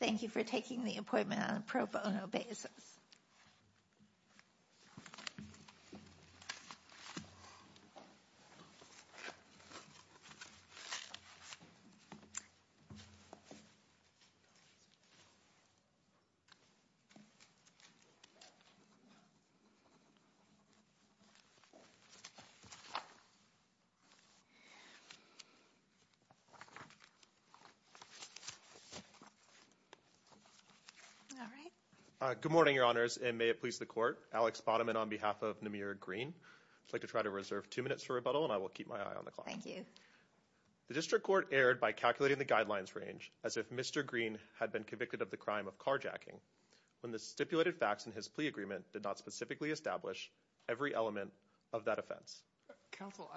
Thank you for taking the appointment on a pro bono basis. Good morning, your honors, and may it please the court, Alex Bonneman on behalf of Namir Greene. I'd like to try to reserve two minutes for rebuttal, and I will keep my eye on the clock. The district court erred by calculating the guidelines range as if Mr. Greene had been convicted of the crime of carjacking when the stipulated facts in his plea agreement did not specifically establish every element of that offense. Counsel,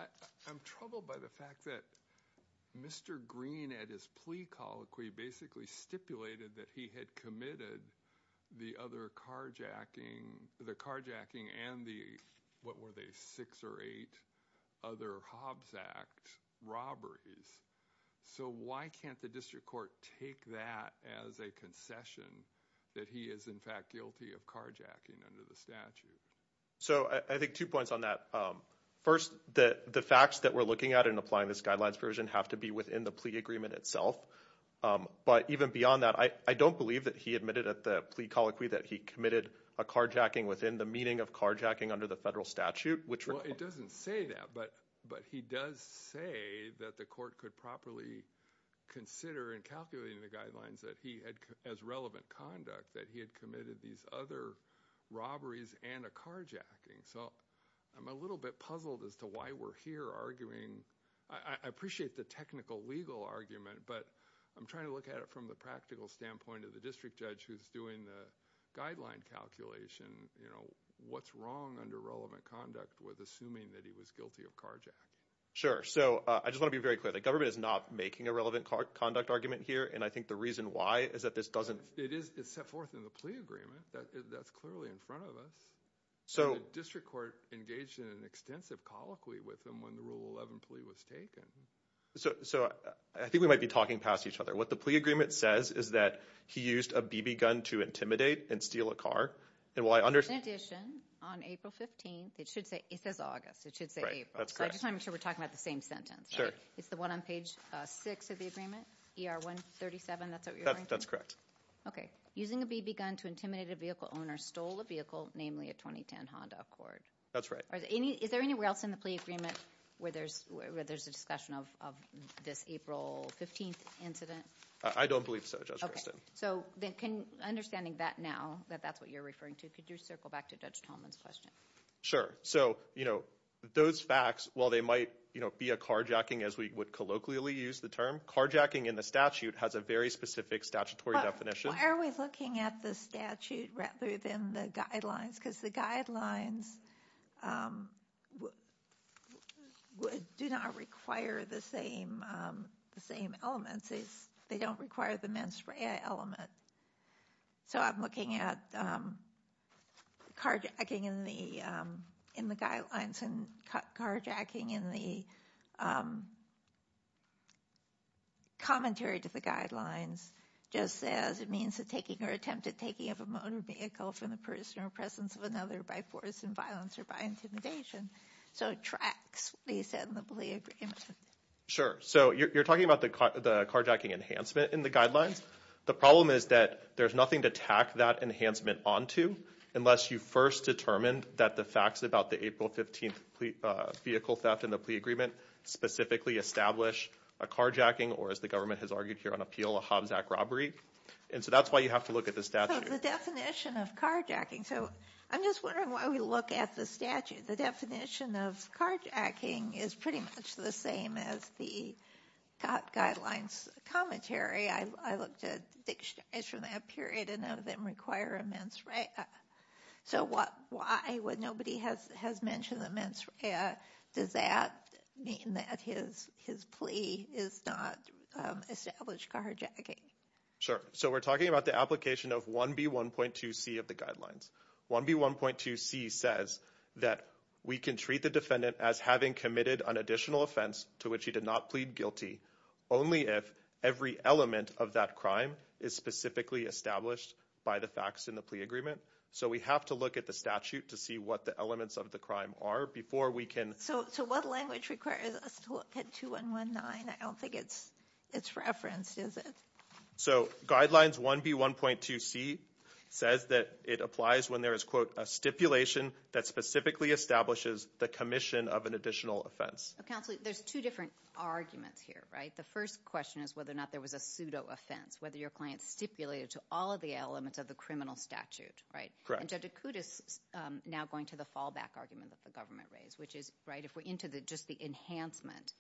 I'm troubled by the fact that Mr. Greene at his plea colloquy basically stipulated that he had committed the other carjacking, the carjacking and the what were they six or eight other Hobbs Act robberies. So why can't the district court take that as a concession that he is in fact guilty of carjacking under the statute? So I think two points on that. First that the facts that we're looking at in applying this guidelines version have to be within the plea agreement itself. But even beyond that, I don't believe that he admitted at the plea colloquy that he committed a carjacking within the meaning of carjacking under the federal statute, which it doesn't say that. But but he does say that the court could properly consider and calculating the guidelines that he had as relevant conduct, that he had committed these other robberies and a carjacking. So I'm a little bit puzzled as to why we're here arguing. I appreciate the technical legal argument, but I'm trying to look at it from the practical standpoint of the district judge who's doing the guideline calculation, you know, what's wrong under relevant conduct with assuming that he was guilty of carjacking? Sure. So I just want to be very clear. The government is not making a relevant car conduct argument here. And I think the reason why is that this doesn't it is it's set forth in the plea agreement that that's clearly in front of us. So district court engaged in an extensive colloquy with them when the rule 11 plea was taken. So. So I think we might be talking past each other. What the plea agreement says is that he used a BB gun to intimidate and steal a car. And while I understand addition on April 15th, it should say it says August, it should say that's great. I'm sure we're talking about the same sentence. Sure. It's the one on page six of the agreement. ER 137. That's what that's correct. OK. Using a BB gun to intimidate a vehicle owner stole a vehicle, namely a 2010 Honda Accord. That's right. Is there anywhere else in the plea agreement where there's where there's a discussion of this April 15th incident? I don't believe so. Just OK. So then can understanding that now that that's what you're referring to, could you circle back to Judge Tolman's question? Sure. So, you know, those facts, while they might be a carjacking, as we would colloquially use the term carjacking in the statute, has a very specific statutory definition. Why are we looking at the statute rather than the guidelines? Because the guidelines do not require the same the same elements. They don't require the mens rea element. So I'm looking at carjacking in the in the guidelines and carjacking in the commentary to the guidelines just as it means that taking or attempted taking of a motor vehicle from the person or presence of another by force and violence or by intimidation. So it tracks what he said in the plea agreement. Sure. So you're talking about the carjacking enhancement in the guidelines. The problem is that there's nothing to tack that enhancement on to unless you first determined that the facts about the April 15th vehicle theft in the plea agreement specifically establish a carjacking or, as the government has argued here on appeal, a Hobbs act robbery. And so that's why you have to look at the statute, the definition of carjacking. So I'm just wondering why we look at the statute. The definition of carjacking is pretty much the same as the guidelines commentary. I looked at dictionaries from that period and none of them require a mens rea. So why, when nobody has mentioned the mens rea, does that mean that his plea is not established carjacking? Sure. So we're talking about the application of 1B1.2C of the guidelines. 1B1.2C says that we can treat the defendant as having committed an additional offense to which he did not plead guilty only if every element of that crime is specifically established by the facts in the plea agreement. So we have to look at the statute to see what the elements of the crime are before we can... So what language requires us to look at 2.1.1.9? I don't think it's referenced, is it? So guidelines 1B1.2C says that it applies when there is, quote, a stipulation that specifically establishes the commission of an additional offense. Counsel, there's two different arguments here, right? The first question is whether or not there was a pseudo-offense, whether your client stipulated to all of the elements of the criminal statute, right? And Judge Acuda is now going to the fallback argument that the government raised, which is, right, if we're into just the enhancement,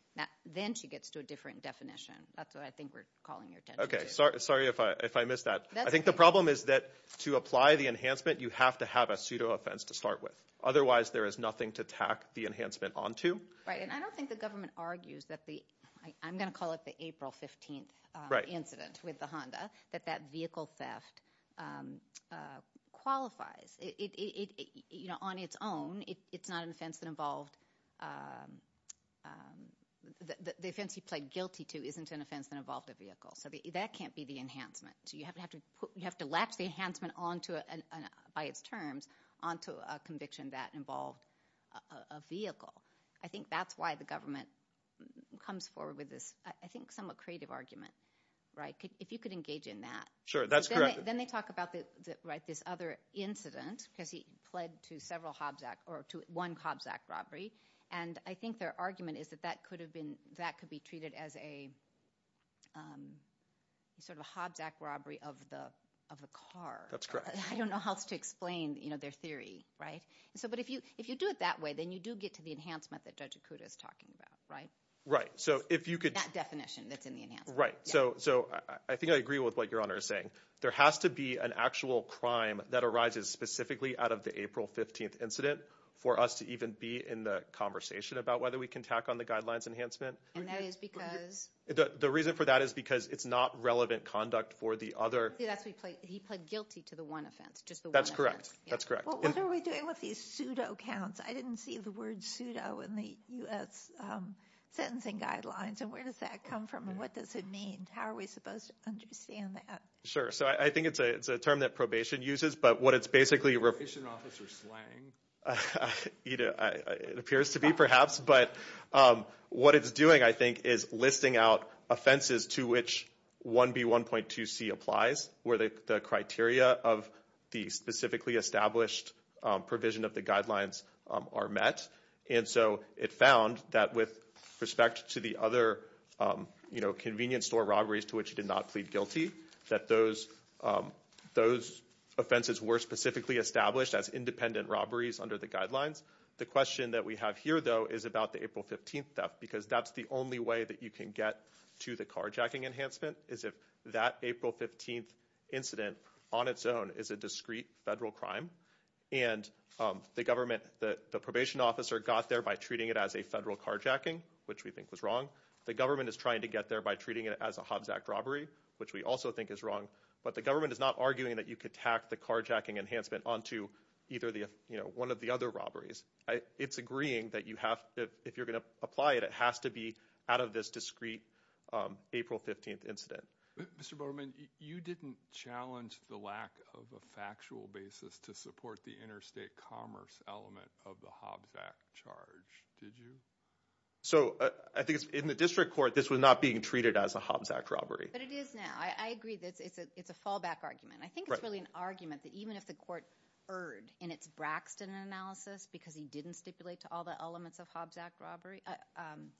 then she gets to a different definition. That's what I think we're calling your attention to. Okay, sorry if I missed that. I think the problem is that to apply the enhancement, you have to have a pseudo-offense to start with. Otherwise, there is nothing to tack the enhancement onto. Right. And I don't think the government argues that the, I'm going to call it the April 15th incident with the Honda, that that vehicle theft qualifies. On its own, it's not an offense that involved, the offense you pled guilty to isn't an offense that involved a vehicle. So that can't be the enhancement. You have to latch the enhancement by its terms onto a conviction that involved a vehicle. I think that's why the government comes forward with this, I think, somewhat creative argument. Right? If you could engage in that. Sure, that's correct. Then they talk about this other incident, because he pled to one Hobbs Act robbery. And I think their argument is that that could be treated as a sort of a Hobbs Act robbery of the car. That's correct. I don't know how else to explain their theory, right? But if you do it that way, then you do get to the enhancement that Judge Acuda is talking about, right? Right. So if you could- That definition that's in the enhancement. Right. So I think I agree with what Your Honor is saying. There has to be an actual crime that arises specifically out of the April 15th incident for us to even be in the conversation about whether we can tack on the guidelines enhancement. And that is because- The reason for that is because it's not relevant conduct for the other- He pled guilty to the one offense, just the one offense. That's correct. That's correct. Well, what are we doing with these pseudo-counts? I didn't see the word pseudo in the U.S. sentencing guidelines, and where does that come from, and what does it mean? How are we supposed to understand that? Sure. So I think it's a term that probation uses, but what it's basically- Is it an officer slang? It appears to be, perhaps. But what it's doing, I think, is listing out offenses to which 1B1.2C applies, where the criteria of the specifically established provision of the guidelines are met. And so it found that with respect to the other convenience store robberies to which he did not plead guilty, that those offenses were specifically established as independent robberies under the guidelines. The question that we have here, though, is about the April 15th theft, because that's the only way that you can get to the carjacking enhancement, is if that April 15th incident on its own is a discreet federal crime, and the government, the probation officer got there by treating it as a federal carjacking, which we think was wrong. The government is trying to get there by treating it as a Hobbs Act robbery, which we also think is wrong. But the government is not arguing that you could tack the carjacking enhancement onto either one of the other robberies. It's agreeing that if you're going to apply it, it has to be out of this discreet April 15th incident. Mr. Bowerman, you didn't challenge the lack of a factual basis to support the interstate commerce element of the Hobbs Act charge, did you? So I think in the district court, this was not being treated as a Hobbs Act robbery. But it is now. I agree that it's a fallback argument. I think it's really an argument that even if the court erred in its Braxton analysis, because he didn't stipulate to all the elements of Hobbs Act robbery,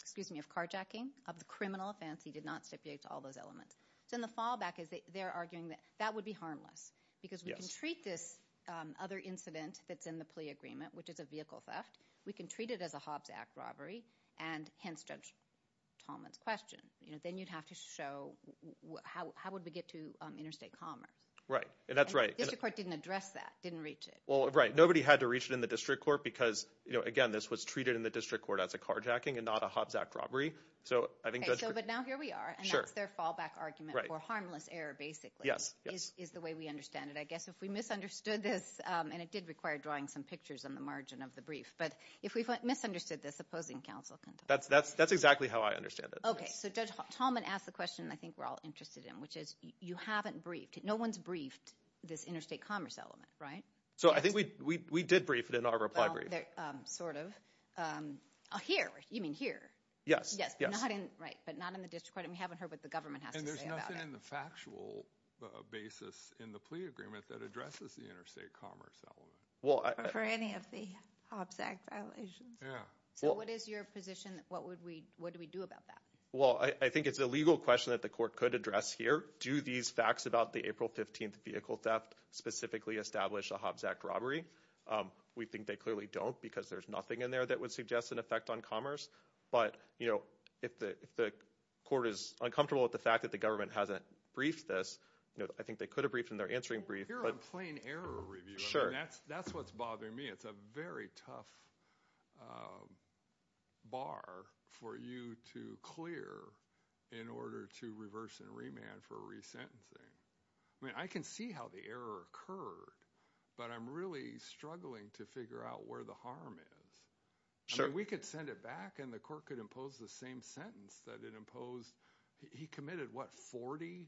excuse me, of carjacking, of the criminal offense, he did not stipulate to all those elements. So in the fallback, they're arguing that that would be harmless. Because we can treat this other incident that's in the plea agreement, which is a vehicle theft, we can treat it as a Hobbs Act robbery, and hence Judge Tallman's question. Then you'd have to show how would we get to interstate commerce. Right. And that's right. And the district court didn't address that, didn't reach it. Well, right. Nobody had to reach it in the district court because, again, this was treated in the district court as a carjacking and not a Hobbs Act robbery. So I think- So but now here we are. Sure. And that's their fallback argument for harmless error, basically. Yes. Yes. Is the way we understand it. I guess if we misunderstood this, and it did require drawing some pictures on the margin of the brief, but if we misunderstood this, opposing counsel can talk. That's exactly how I understand it. Okay. So Judge Tallman asked the question I think we're all interested in, which is, you haven't briefed. No one's briefed this interstate commerce element, right? So I think we did brief it in our reply brief. Well, sort of. Here. You mean here? Yes. Yes. Yes. Not in, right, but not in the district court. And we haven't heard what the government has to say about it. And there's nothing in the factual basis in the plea agreement that addresses the interstate commerce element. Well, I- Or any of the Hobbs Act violations. Yeah. So what is your position? What would we, what do we do about that? Well, I think it's a legal question that the court could address here. Do these facts about the April 15th vehicle theft specifically establish a Hobbs Act robbery? We think they clearly don't because there's nothing in there that would suggest an effect on commerce. But, you know, if the court is uncomfortable with the fact that the government hasn't briefed this, you know, I think they could have briefed in their answering brief, but- You're on plain error review. Sure. I mean, that's what's bothering me. It's a very tough bar for you to clear in order to reverse and remand for resentencing. I mean, I can see how the error occurred, but I'm really struggling to figure out where the harm is. Sure. I mean, we could send it back and the court could impose the same sentence that it imposed. He committed, what, 40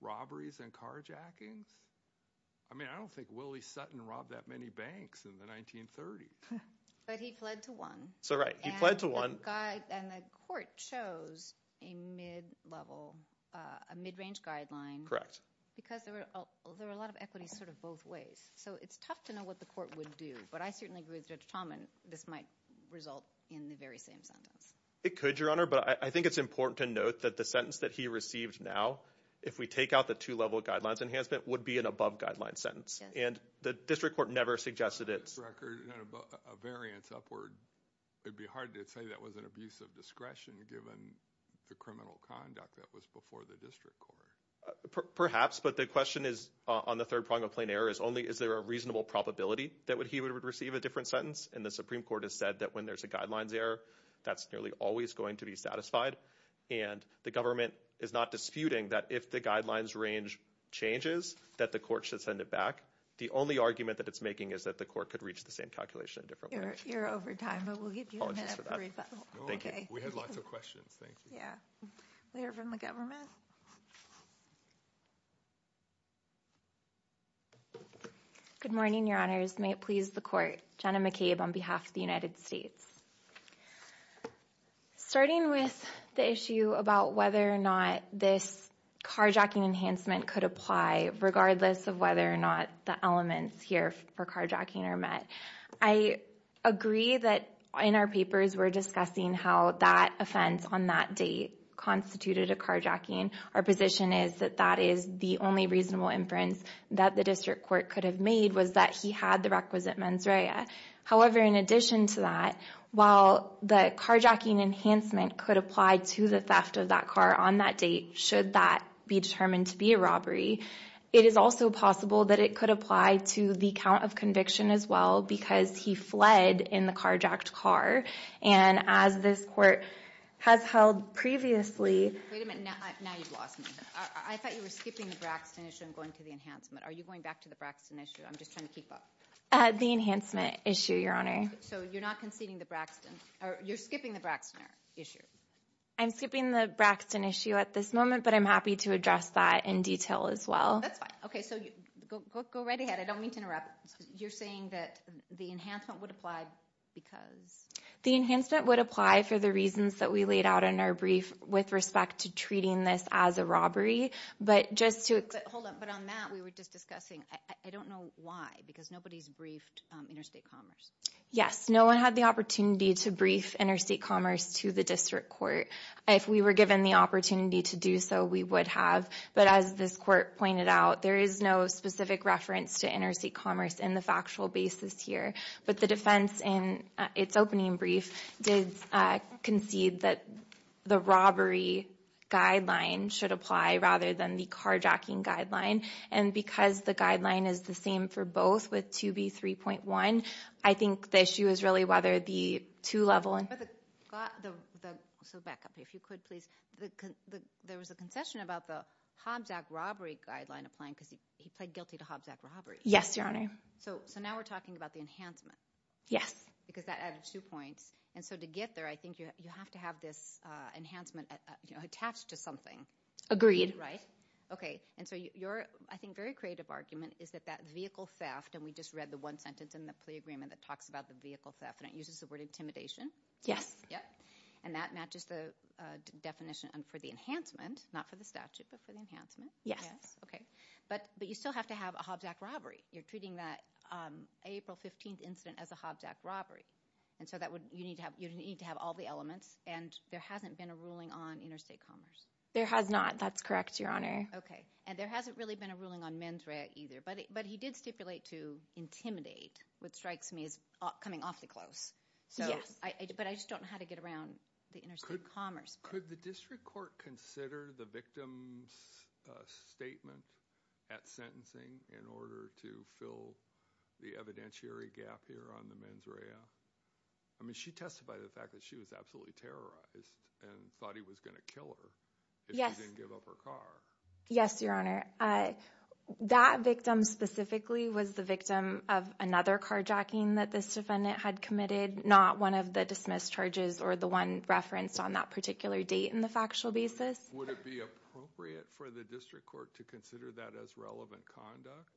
robberies and carjackings? I mean, I don't think Willie Sutton robbed that many banks in the 1930s. But he pled to one. So, right. He pled to one. And the court chose a mid-level, a mid-range guideline. Correct. Because there were a lot of equities sort of both ways. So, it's tough to know what the court would do. But I certainly agree with Judge Chalman, this might result in the very same sentence. It could, Your Honor, but I think it's important to note that the sentence that he received now, if we take out the two-level guidelines enhancement, would be an above-guidelines sentence. And the district court never suggested it. It's a record, a variance upward. It'd be hard to say that was an abuse of discretion given the criminal conduct that was before the district court. Perhaps. But the question is, on the third prong of plain error, is only is there a reasonable probability that he would receive a different sentence? And the Supreme Court has said that when there's a guidelines error, that's nearly always going to be satisfied. And the government is not disputing that if the guidelines range changes, that the court should send it back. The only argument that it's making is that the court could reach the same calculation in a different way. You're over time, but we'll give you a minute. Oh, it's just for that. Thank you. We had lots of questions. Thank you. Yeah. We hear from the government. Good morning, Your Honors. May it please the Court. Jenna McCabe on behalf of the United States. Starting with the issue about whether or not this carjacking enhancement could apply, regardless of whether or not the elements here for carjacking are met, I agree that in our papers we're discussing how that offense on that date constituted a carjacking. Our position is that that is the only reasonable inference that the district court could have made was that he had the requisite mens rea. However, in addition to that, while the carjacking enhancement could apply to the theft of that car on that date, should that be determined to be a robbery, it is also possible that it could apply to the count of conviction as well because he fled in the carjacked car. And as this court has held previously... Wait a minute. Now you've lost me. I thought you were skipping the Braxton issue and going to the enhancement. Are you going back to the Braxton issue? I'm just trying to keep up. The enhancement issue, Your Honor. So you're not conceding the Braxton... You're skipping the Braxton issue. I'm skipping the Braxton issue at this moment, but I'm happy to address that in detail as well. That's fine. Okay, so go right ahead. I don't mean to interrupt. You're saying that the enhancement would apply because... The enhancement would apply for the reasons that we laid out in our brief with respect to treating this as a robbery, but just to... Hold on. But on that we were just discussing. I don't know why because nobody's briefed Interstate Commerce. Yes. No one had the opportunity to brief Interstate Commerce to the district court. If we were given the opportunity to do so, we would have. But as this court pointed out, there is no specific reference to Interstate Commerce in the factual basis here. But the defense in its opening brief did concede that the robbery guideline should apply rather than the carjacking guideline. And because the guideline is the same for both with 2B3.1, I think the issue is really whether the two level... But the... So back up, if you could please. There was a concession about the Hobbs Act robbery guideline applying because he pled guilty to Hobbs Act robbery. Yes, Your Honor. So now we're talking about the enhancement. Yes. Because that added two points. And so to get there, I think you have to have this enhancement attached to something. Agreed. Right? Okay. And so your, I think, very creative argument is that that vehicle theft... And we just read the one sentence in the plea agreement that talks about the vehicle theft and it uses the word intimidation. Yes. Yep. And that matches the definition for the enhancement, not for the statute, but for the enhancement. Yes. Okay. But you still have to have a Hobbs Act robbery. You're treating that April 15th incident as a Hobbs Act robbery. And so that would... You need to have all the elements. And there hasn't been a ruling on Interstate Commerce. There has not. That's correct, Your Honor. Okay. And there hasn't really been a ruling on mens rea either. But he did stipulate to intimidate, which strikes me as coming awfully close. Yes. But I just don't know how to get around the Interstate Commerce. Could the district court consider the victim's statement at sentencing in order to fill the evidentiary gap here on the mens rea? I mean, she testified to the fact that she was absolutely terrorized and thought he was going to kill her if she didn't give up her car. Yes, Your Honor. That victim specifically was the victim of another carjacking that this defendant had committed, not one of the dismissed charges or the one referenced on that particular date in the factual basis. Would it be appropriate for the district court to consider that as relevant conduct?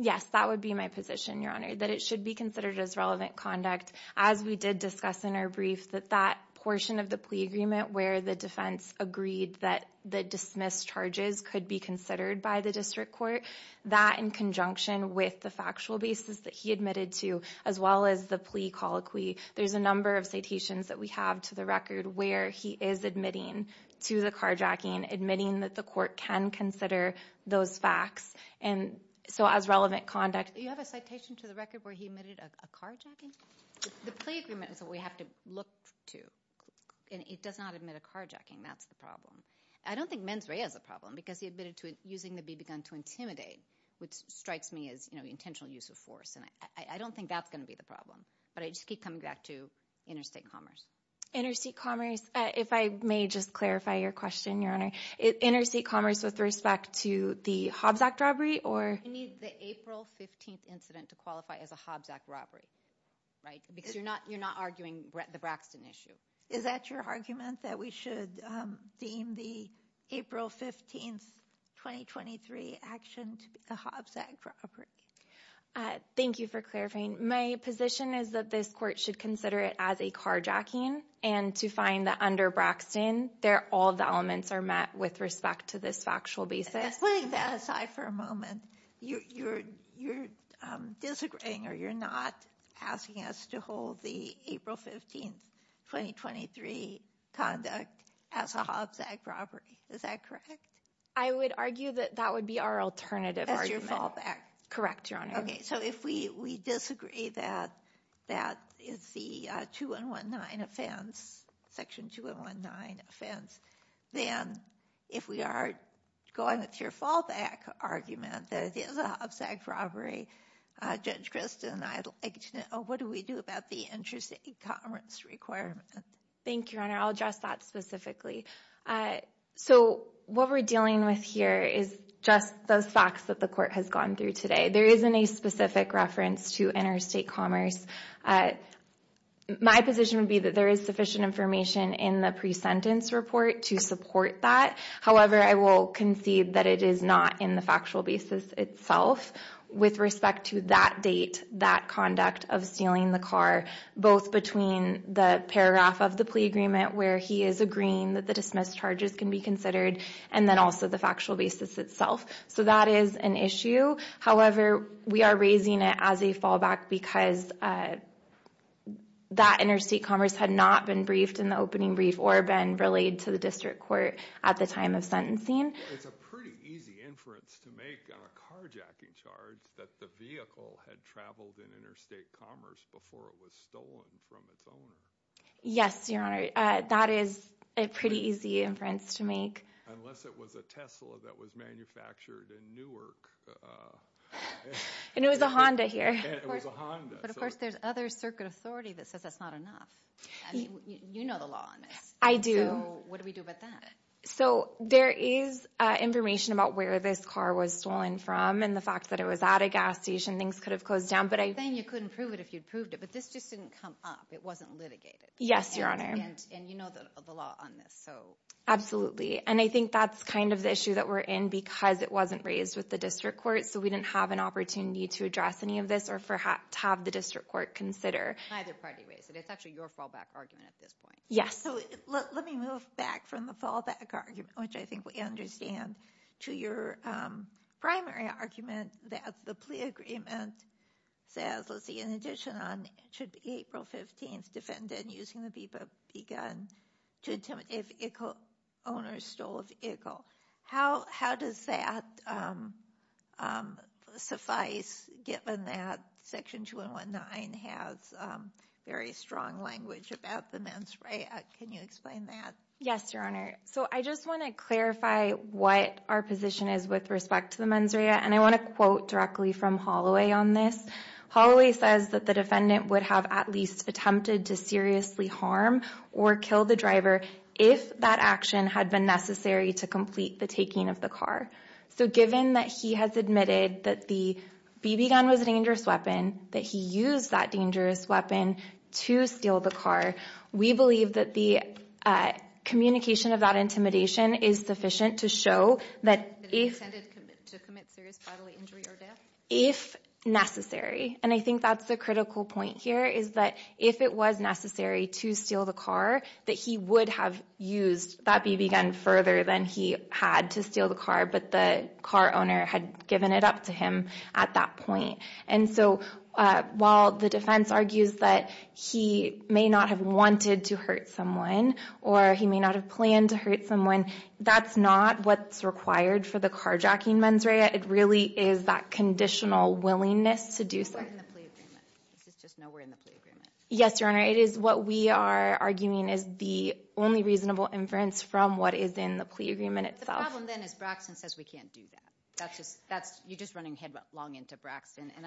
Yes, that would be my position, Your Honor, that it should be considered as relevant conduct as we did discuss in our brief that that portion of the plea agreement where the defense agreed that the dismissed charges could be considered by the district court, that in conjunction with the factual basis that he admitted to, as well as the plea colloquy, there's a number of citations that we have to the record where he is admitting to the carjacking, admitting that the court can consider those facts, and so as relevant conduct. You have a citation to the record where he admitted a carjacking? The plea agreement is what we have to look to. It does not admit a carjacking. That's the problem. I don't think mens rea is a problem because he admitted to using the BB gun to intimidate, which strikes me as intentional use of force, and I don't think that's going to be the problem. But I just keep coming back to interstate commerce. Interstate commerce. If I may just clarify your question, Your Honor. Interstate commerce with respect to the Hobbs Act robbery? You need the April 15th incident to qualify as a Hobbs Act robbery, right? Because you're not arguing the Braxton issue. Is that your argument, that we should deem the April 15th, 2023 action to be a Hobbs Act robbery? Thank you for clarifying. My position is that this court should consider it as a carjacking, and to find that under Braxton, all the elements are met with respect to this factual basis. Putting that aside for a moment, you're disagreeing or you're not asking us to hold the April 15th, 2023 conduct as a Hobbs Act robbery. Is that correct? I would argue that that would be our alternative argument. Correct, Your Honor. Okay, so if we disagree that that is the 2-119 offense, section 2-119 offense, then if we are going with your fallback argument that it is a Hobbs Act robbery, Judge Kristen, I'd like to know, what do we do about the interstate commerce requirement? Thank you, Your Honor. I'll address that specifically. So, what we're dealing with here is just those facts that the court has gone through today. There isn't a specific reference to interstate commerce. My position would be that there is sufficient information in the pre-sentence report to support that. However, I will concede that it is not in the factual basis itself with respect to that date, that conduct of stealing the car, both between the paragraph of the plea agreement where he is agreeing that the dismissed charges can be considered and then also the factual basis itself. So that is an issue. However, we are raising it as a fallback because that interstate commerce had not been briefed or been relayed to the district court at the time of sentencing. It's a pretty easy inference to make on a carjacking charge that the vehicle had traveled in interstate commerce before it was stolen from its owner. Yes, Your Honor. That is a pretty easy inference to make. Unless it was a Tesla that was manufactured in Newark. And it was a Honda here. It was a Honda. But of course, there's other circuit authority that says that's not enough. You know the law on this. I do. So what do we do about that? So there is information about where this car was stolen from and the fact that it was at a gas station. Things could have closed down. You're saying you couldn't prove it if you'd proved it. But this just didn't come up. It wasn't litigated. Yes, Your Honor. And you know the law on this. Absolutely. And I think that's kind of the issue that we're in because it wasn't raised with the district court. So we didn't have an opportunity to address any of this or to have the district court consider. Neither party raised it. It's actually your fallback argument at this point. So let me move back from the fallback argument, which I think we understand, to your primary argument that the plea agreement says, let's see, in addition on, it should be April 15th, defendant using the BP gun to attempt, if Ickle, owner stole of Ickle. How does that suffice given that Section 219 has very strong language about the mens rea. Can you explain that? Yes, Your Honor. So I just want to clarify what our position is with respect to the mens rea. And I want to quote directly from Holloway on this. Holloway says that the defendant would have at least attempted to seriously harm or kill the driver if that action had been necessary to complete the taking of the car. So given that he has admitted that the BP gun was a dangerous weapon, that he used that dangerous weapon to steal the car, we believe that the communication of that intimidation is sufficient to show that if necessary. And I think that's the critical point here, is that if it was necessary to steal the car, that he would have used that BP gun further than he had to steal the car, but the car owner had given it up to him at that point. And so while the defense argues that he may not have wanted to hurt someone or he may not have planned to hurt someone, that's not what's required for the carjacking mens rea. It really is that conditional willingness to do so. This is just nowhere in the plea agreement. Yes, Your Honor. It is what we are arguing is the only reasonable inference from what is in the plea agreement itself. The problem then is Braxton says we can't do that. You're just running headlong into Braxton, and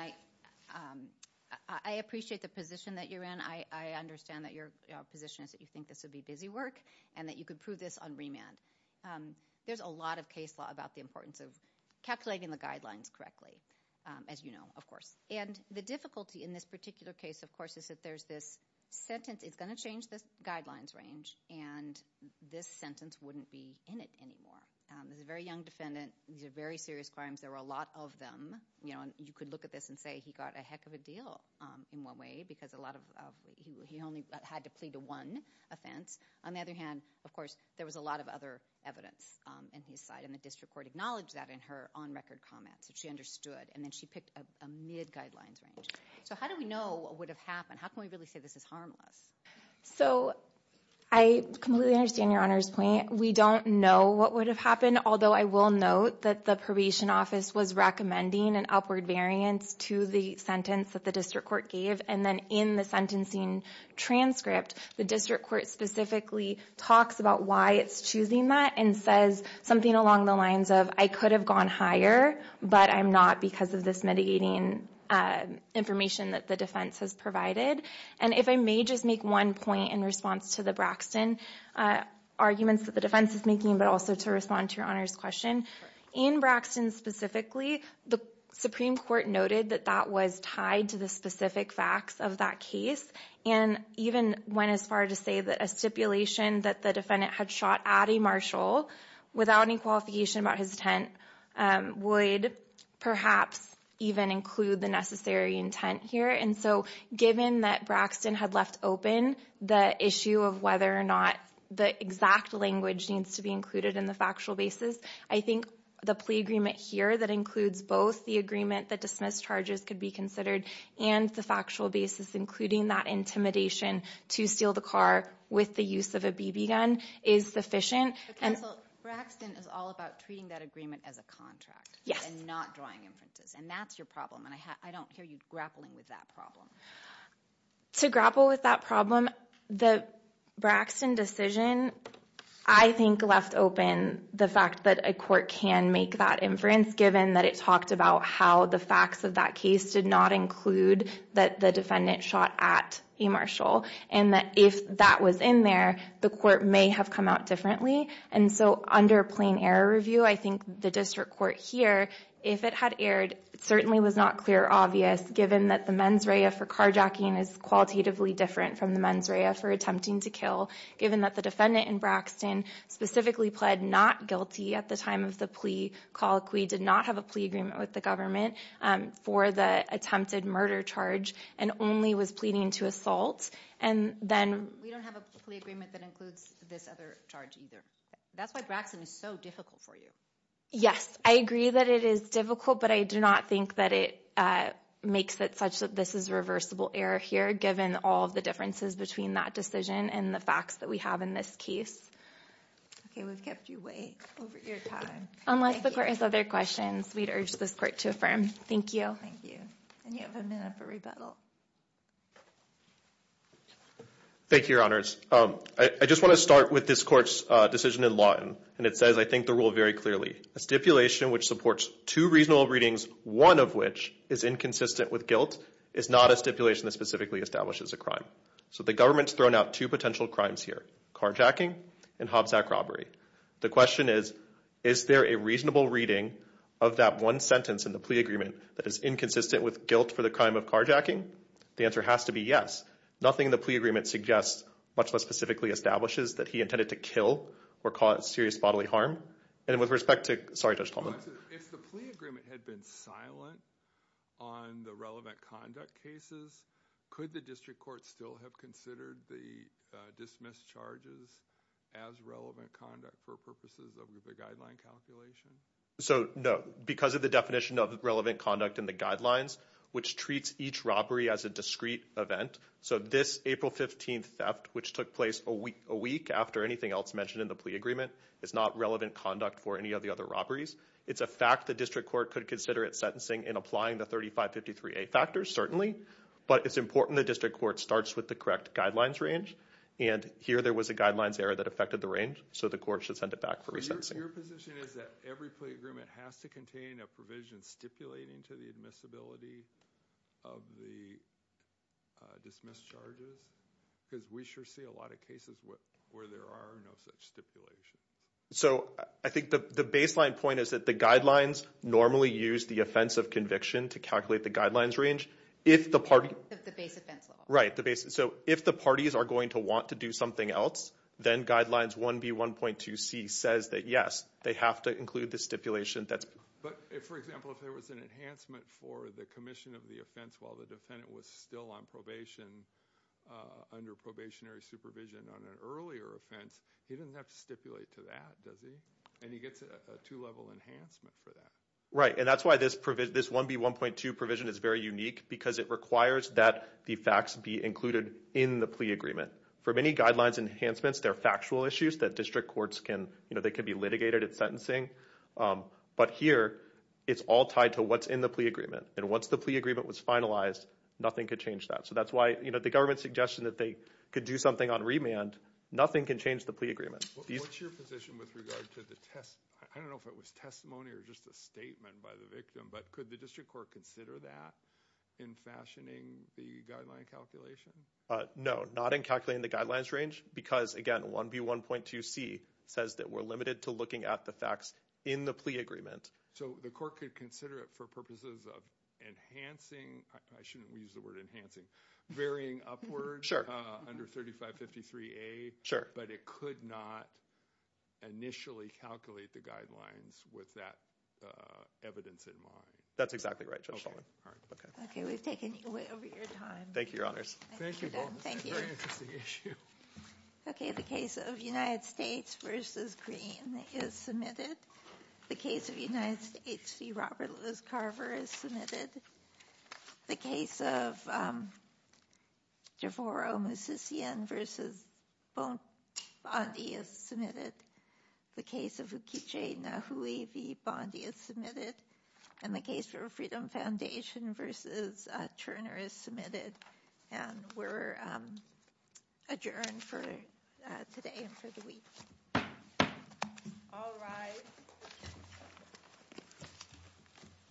I appreciate the position that you're in. I understand that your position is that you think this would be busy work and that you could prove this on remand. There's a lot of case law about the importance of calculating the guidelines correctly, as you know, of course. And the difficulty in this particular case, of course, is that there's this sentence. It's going to change the guidelines range, and this sentence wouldn't be in it anymore. This is a very young defendant. These are very serious crimes. There were a lot of them. You could look at this and say he got a heck of a deal in one way because he only had to plead to one offense. On the other hand, of course, there was a lot of other evidence in his side, and the district court acknowledged that in her on-record comments. She understood, and then she picked a mid-guidelines range. So how do we know what would have happened? How can we really say this is harmless? So I completely understand Your Honor's point. We don't know what would have happened, although I will note that the probation office was recommending an upward variance to the sentence that the district court gave. And then in the sentencing transcript, the district court specifically talks about why it's choosing that and says something along the lines of, I could have gone higher, but I'm not because of this mitigating information that the defense has provided. And if I may just make one point in response to the Braxton arguments that the defense is making, but also to respond to Your Honor's question. In Braxton specifically, the Supreme Court noted that that was tied to the specific facts of that case, and even went as far to say that a stipulation that the defendant had shot at a marshal without any qualification about his intent would perhaps even include the necessary intent here. And so given that Braxton had left open the issue of whether or not the exact language needs to be included in the factual basis, I think the plea agreement here that includes both the agreement that dismissed charges could be considered and the factual basis, including that intimidation to steal the car with the use of a BB gun, is sufficient. Counsel, Braxton is all about treating that agreement as a contract and not drawing inferences, and that's your problem. And I don't hear you grappling with that problem. To grapple with that problem, the Braxton decision, I think, left open the fact that a court can make that inference, given that it talked about how the facts of that case did not include that the defendant shot at a marshal. And that if that was in there, the court may have come out differently. And so under plain error review, I think the district court here, if it had erred, it certainly was not clear or obvious given that the mens rea for carjacking is qualitatively different from the mens rea for attempting to kill, given that the defendant in Braxton specifically pled not guilty at the time of the plea. Colloquy did not have a plea agreement with the government for the attempted murder charge and only was pleading to assault. We don't have a plea agreement that includes this other charge either. That's why Braxton is so difficult for you. Yes, I agree that it is difficult, but I do not think that it makes it such that this is reversible error here, given all of the differences between that decision and the facts that we have in this case. Okay, we've kept you awake over your time. Unless the court has other questions, we'd urge this court to affirm. Thank you. Thank you. And you have a minute for rebuttal. Thank you, Your Honors. I just want to start with this court's decision in Lawton, and it says, I think, the rule very clearly. A stipulation which supports two reasonable readings, one of which is inconsistent with guilt, is not a stipulation that specifically establishes a crime. So the government's thrown out two potential crimes here, carjacking and Hobbs Act robbery. The question is, is there a reasonable reading of that one sentence in the plea agreement that is inconsistent with guilt for the crime of carjacking? The answer has to be yes. Nothing in the plea agreement suggests, much less specifically establishes, that he intended to kill or cause serious bodily harm. And with respect to – sorry, Judge Talbot. If the plea agreement had been silent on the relevant conduct cases, could the district court still have considered the dismissed charges as relevant conduct for purposes of the guideline calculation? So, no. Because of the definition of relevant conduct in the guidelines, which treats each robbery as a discrete event. So this April 15th theft, which took place a week after anything else mentioned in the plea agreement, is not relevant conduct for any of the other robberies. It's a fact the district court could consider it sentencing in applying the 3553A factors, certainly. But it's important the district court starts with the correct guidelines range. And here there was a guidelines error that affected the range, so the court should send it back for resentencing. So your position is that every plea agreement has to contain a provision stipulating to the admissibility of the dismissed charges? Because we sure see a lot of cases where there are no such stipulations. So I think the baseline point is that the guidelines normally use the offense of conviction to calculate the guidelines range. If the party – The base offense level. Right. So if the parties are going to want to do something else, then guidelines 1B1.2C says that, yes, they have to include the stipulation that's – But if, for example, if there was an enhancement for the commission of the offense while the defendant was still on probation, under probationary supervision on an earlier offense, he doesn't have to stipulate to that, does he? And he gets a two-level enhancement for that. Right, and that's why this 1B1.2 provision is very unique because it requires that the facts be included in the plea agreement. For many guidelines enhancements, they're factual issues that district courts can – you know, they can be litigated at sentencing. But here it's all tied to what's in the plea agreement. And once the plea agreement was finalized, nothing could change that. So that's why, you know, the government's suggestion that they could do something on remand, nothing can change the plea agreement. What's your position with regard to the – I don't know if it was testimony or just a statement by the victim, but could the district court consider that in fashioning the guideline calculation? No, not in calculating the guidelines range because, again, 1B1.2C says that we're limited to looking at the facts in the plea agreement. So the court could consider it for purposes of enhancing – I shouldn't use the word enhancing – varying upward under 3553A. Sure. But it could not initially calculate the guidelines with that evidence in mind. That's exactly right, Judge. Okay, we've taken you way over your time. Thank you, Your Honors. Thank you, Bob. Thank you. It's a very interesting issue. Okay, the case of United States v. Green is submitted. The case of United States v. Robert Lewis Carver is submitted. The case of Devoro Musician v. Bondi is submitted. The case of Ukichi Nahui v. Bondi is submitted. And the case for Freedom Foundation v. Turner is submitted. And we're adjourned for today and for the week. All rise.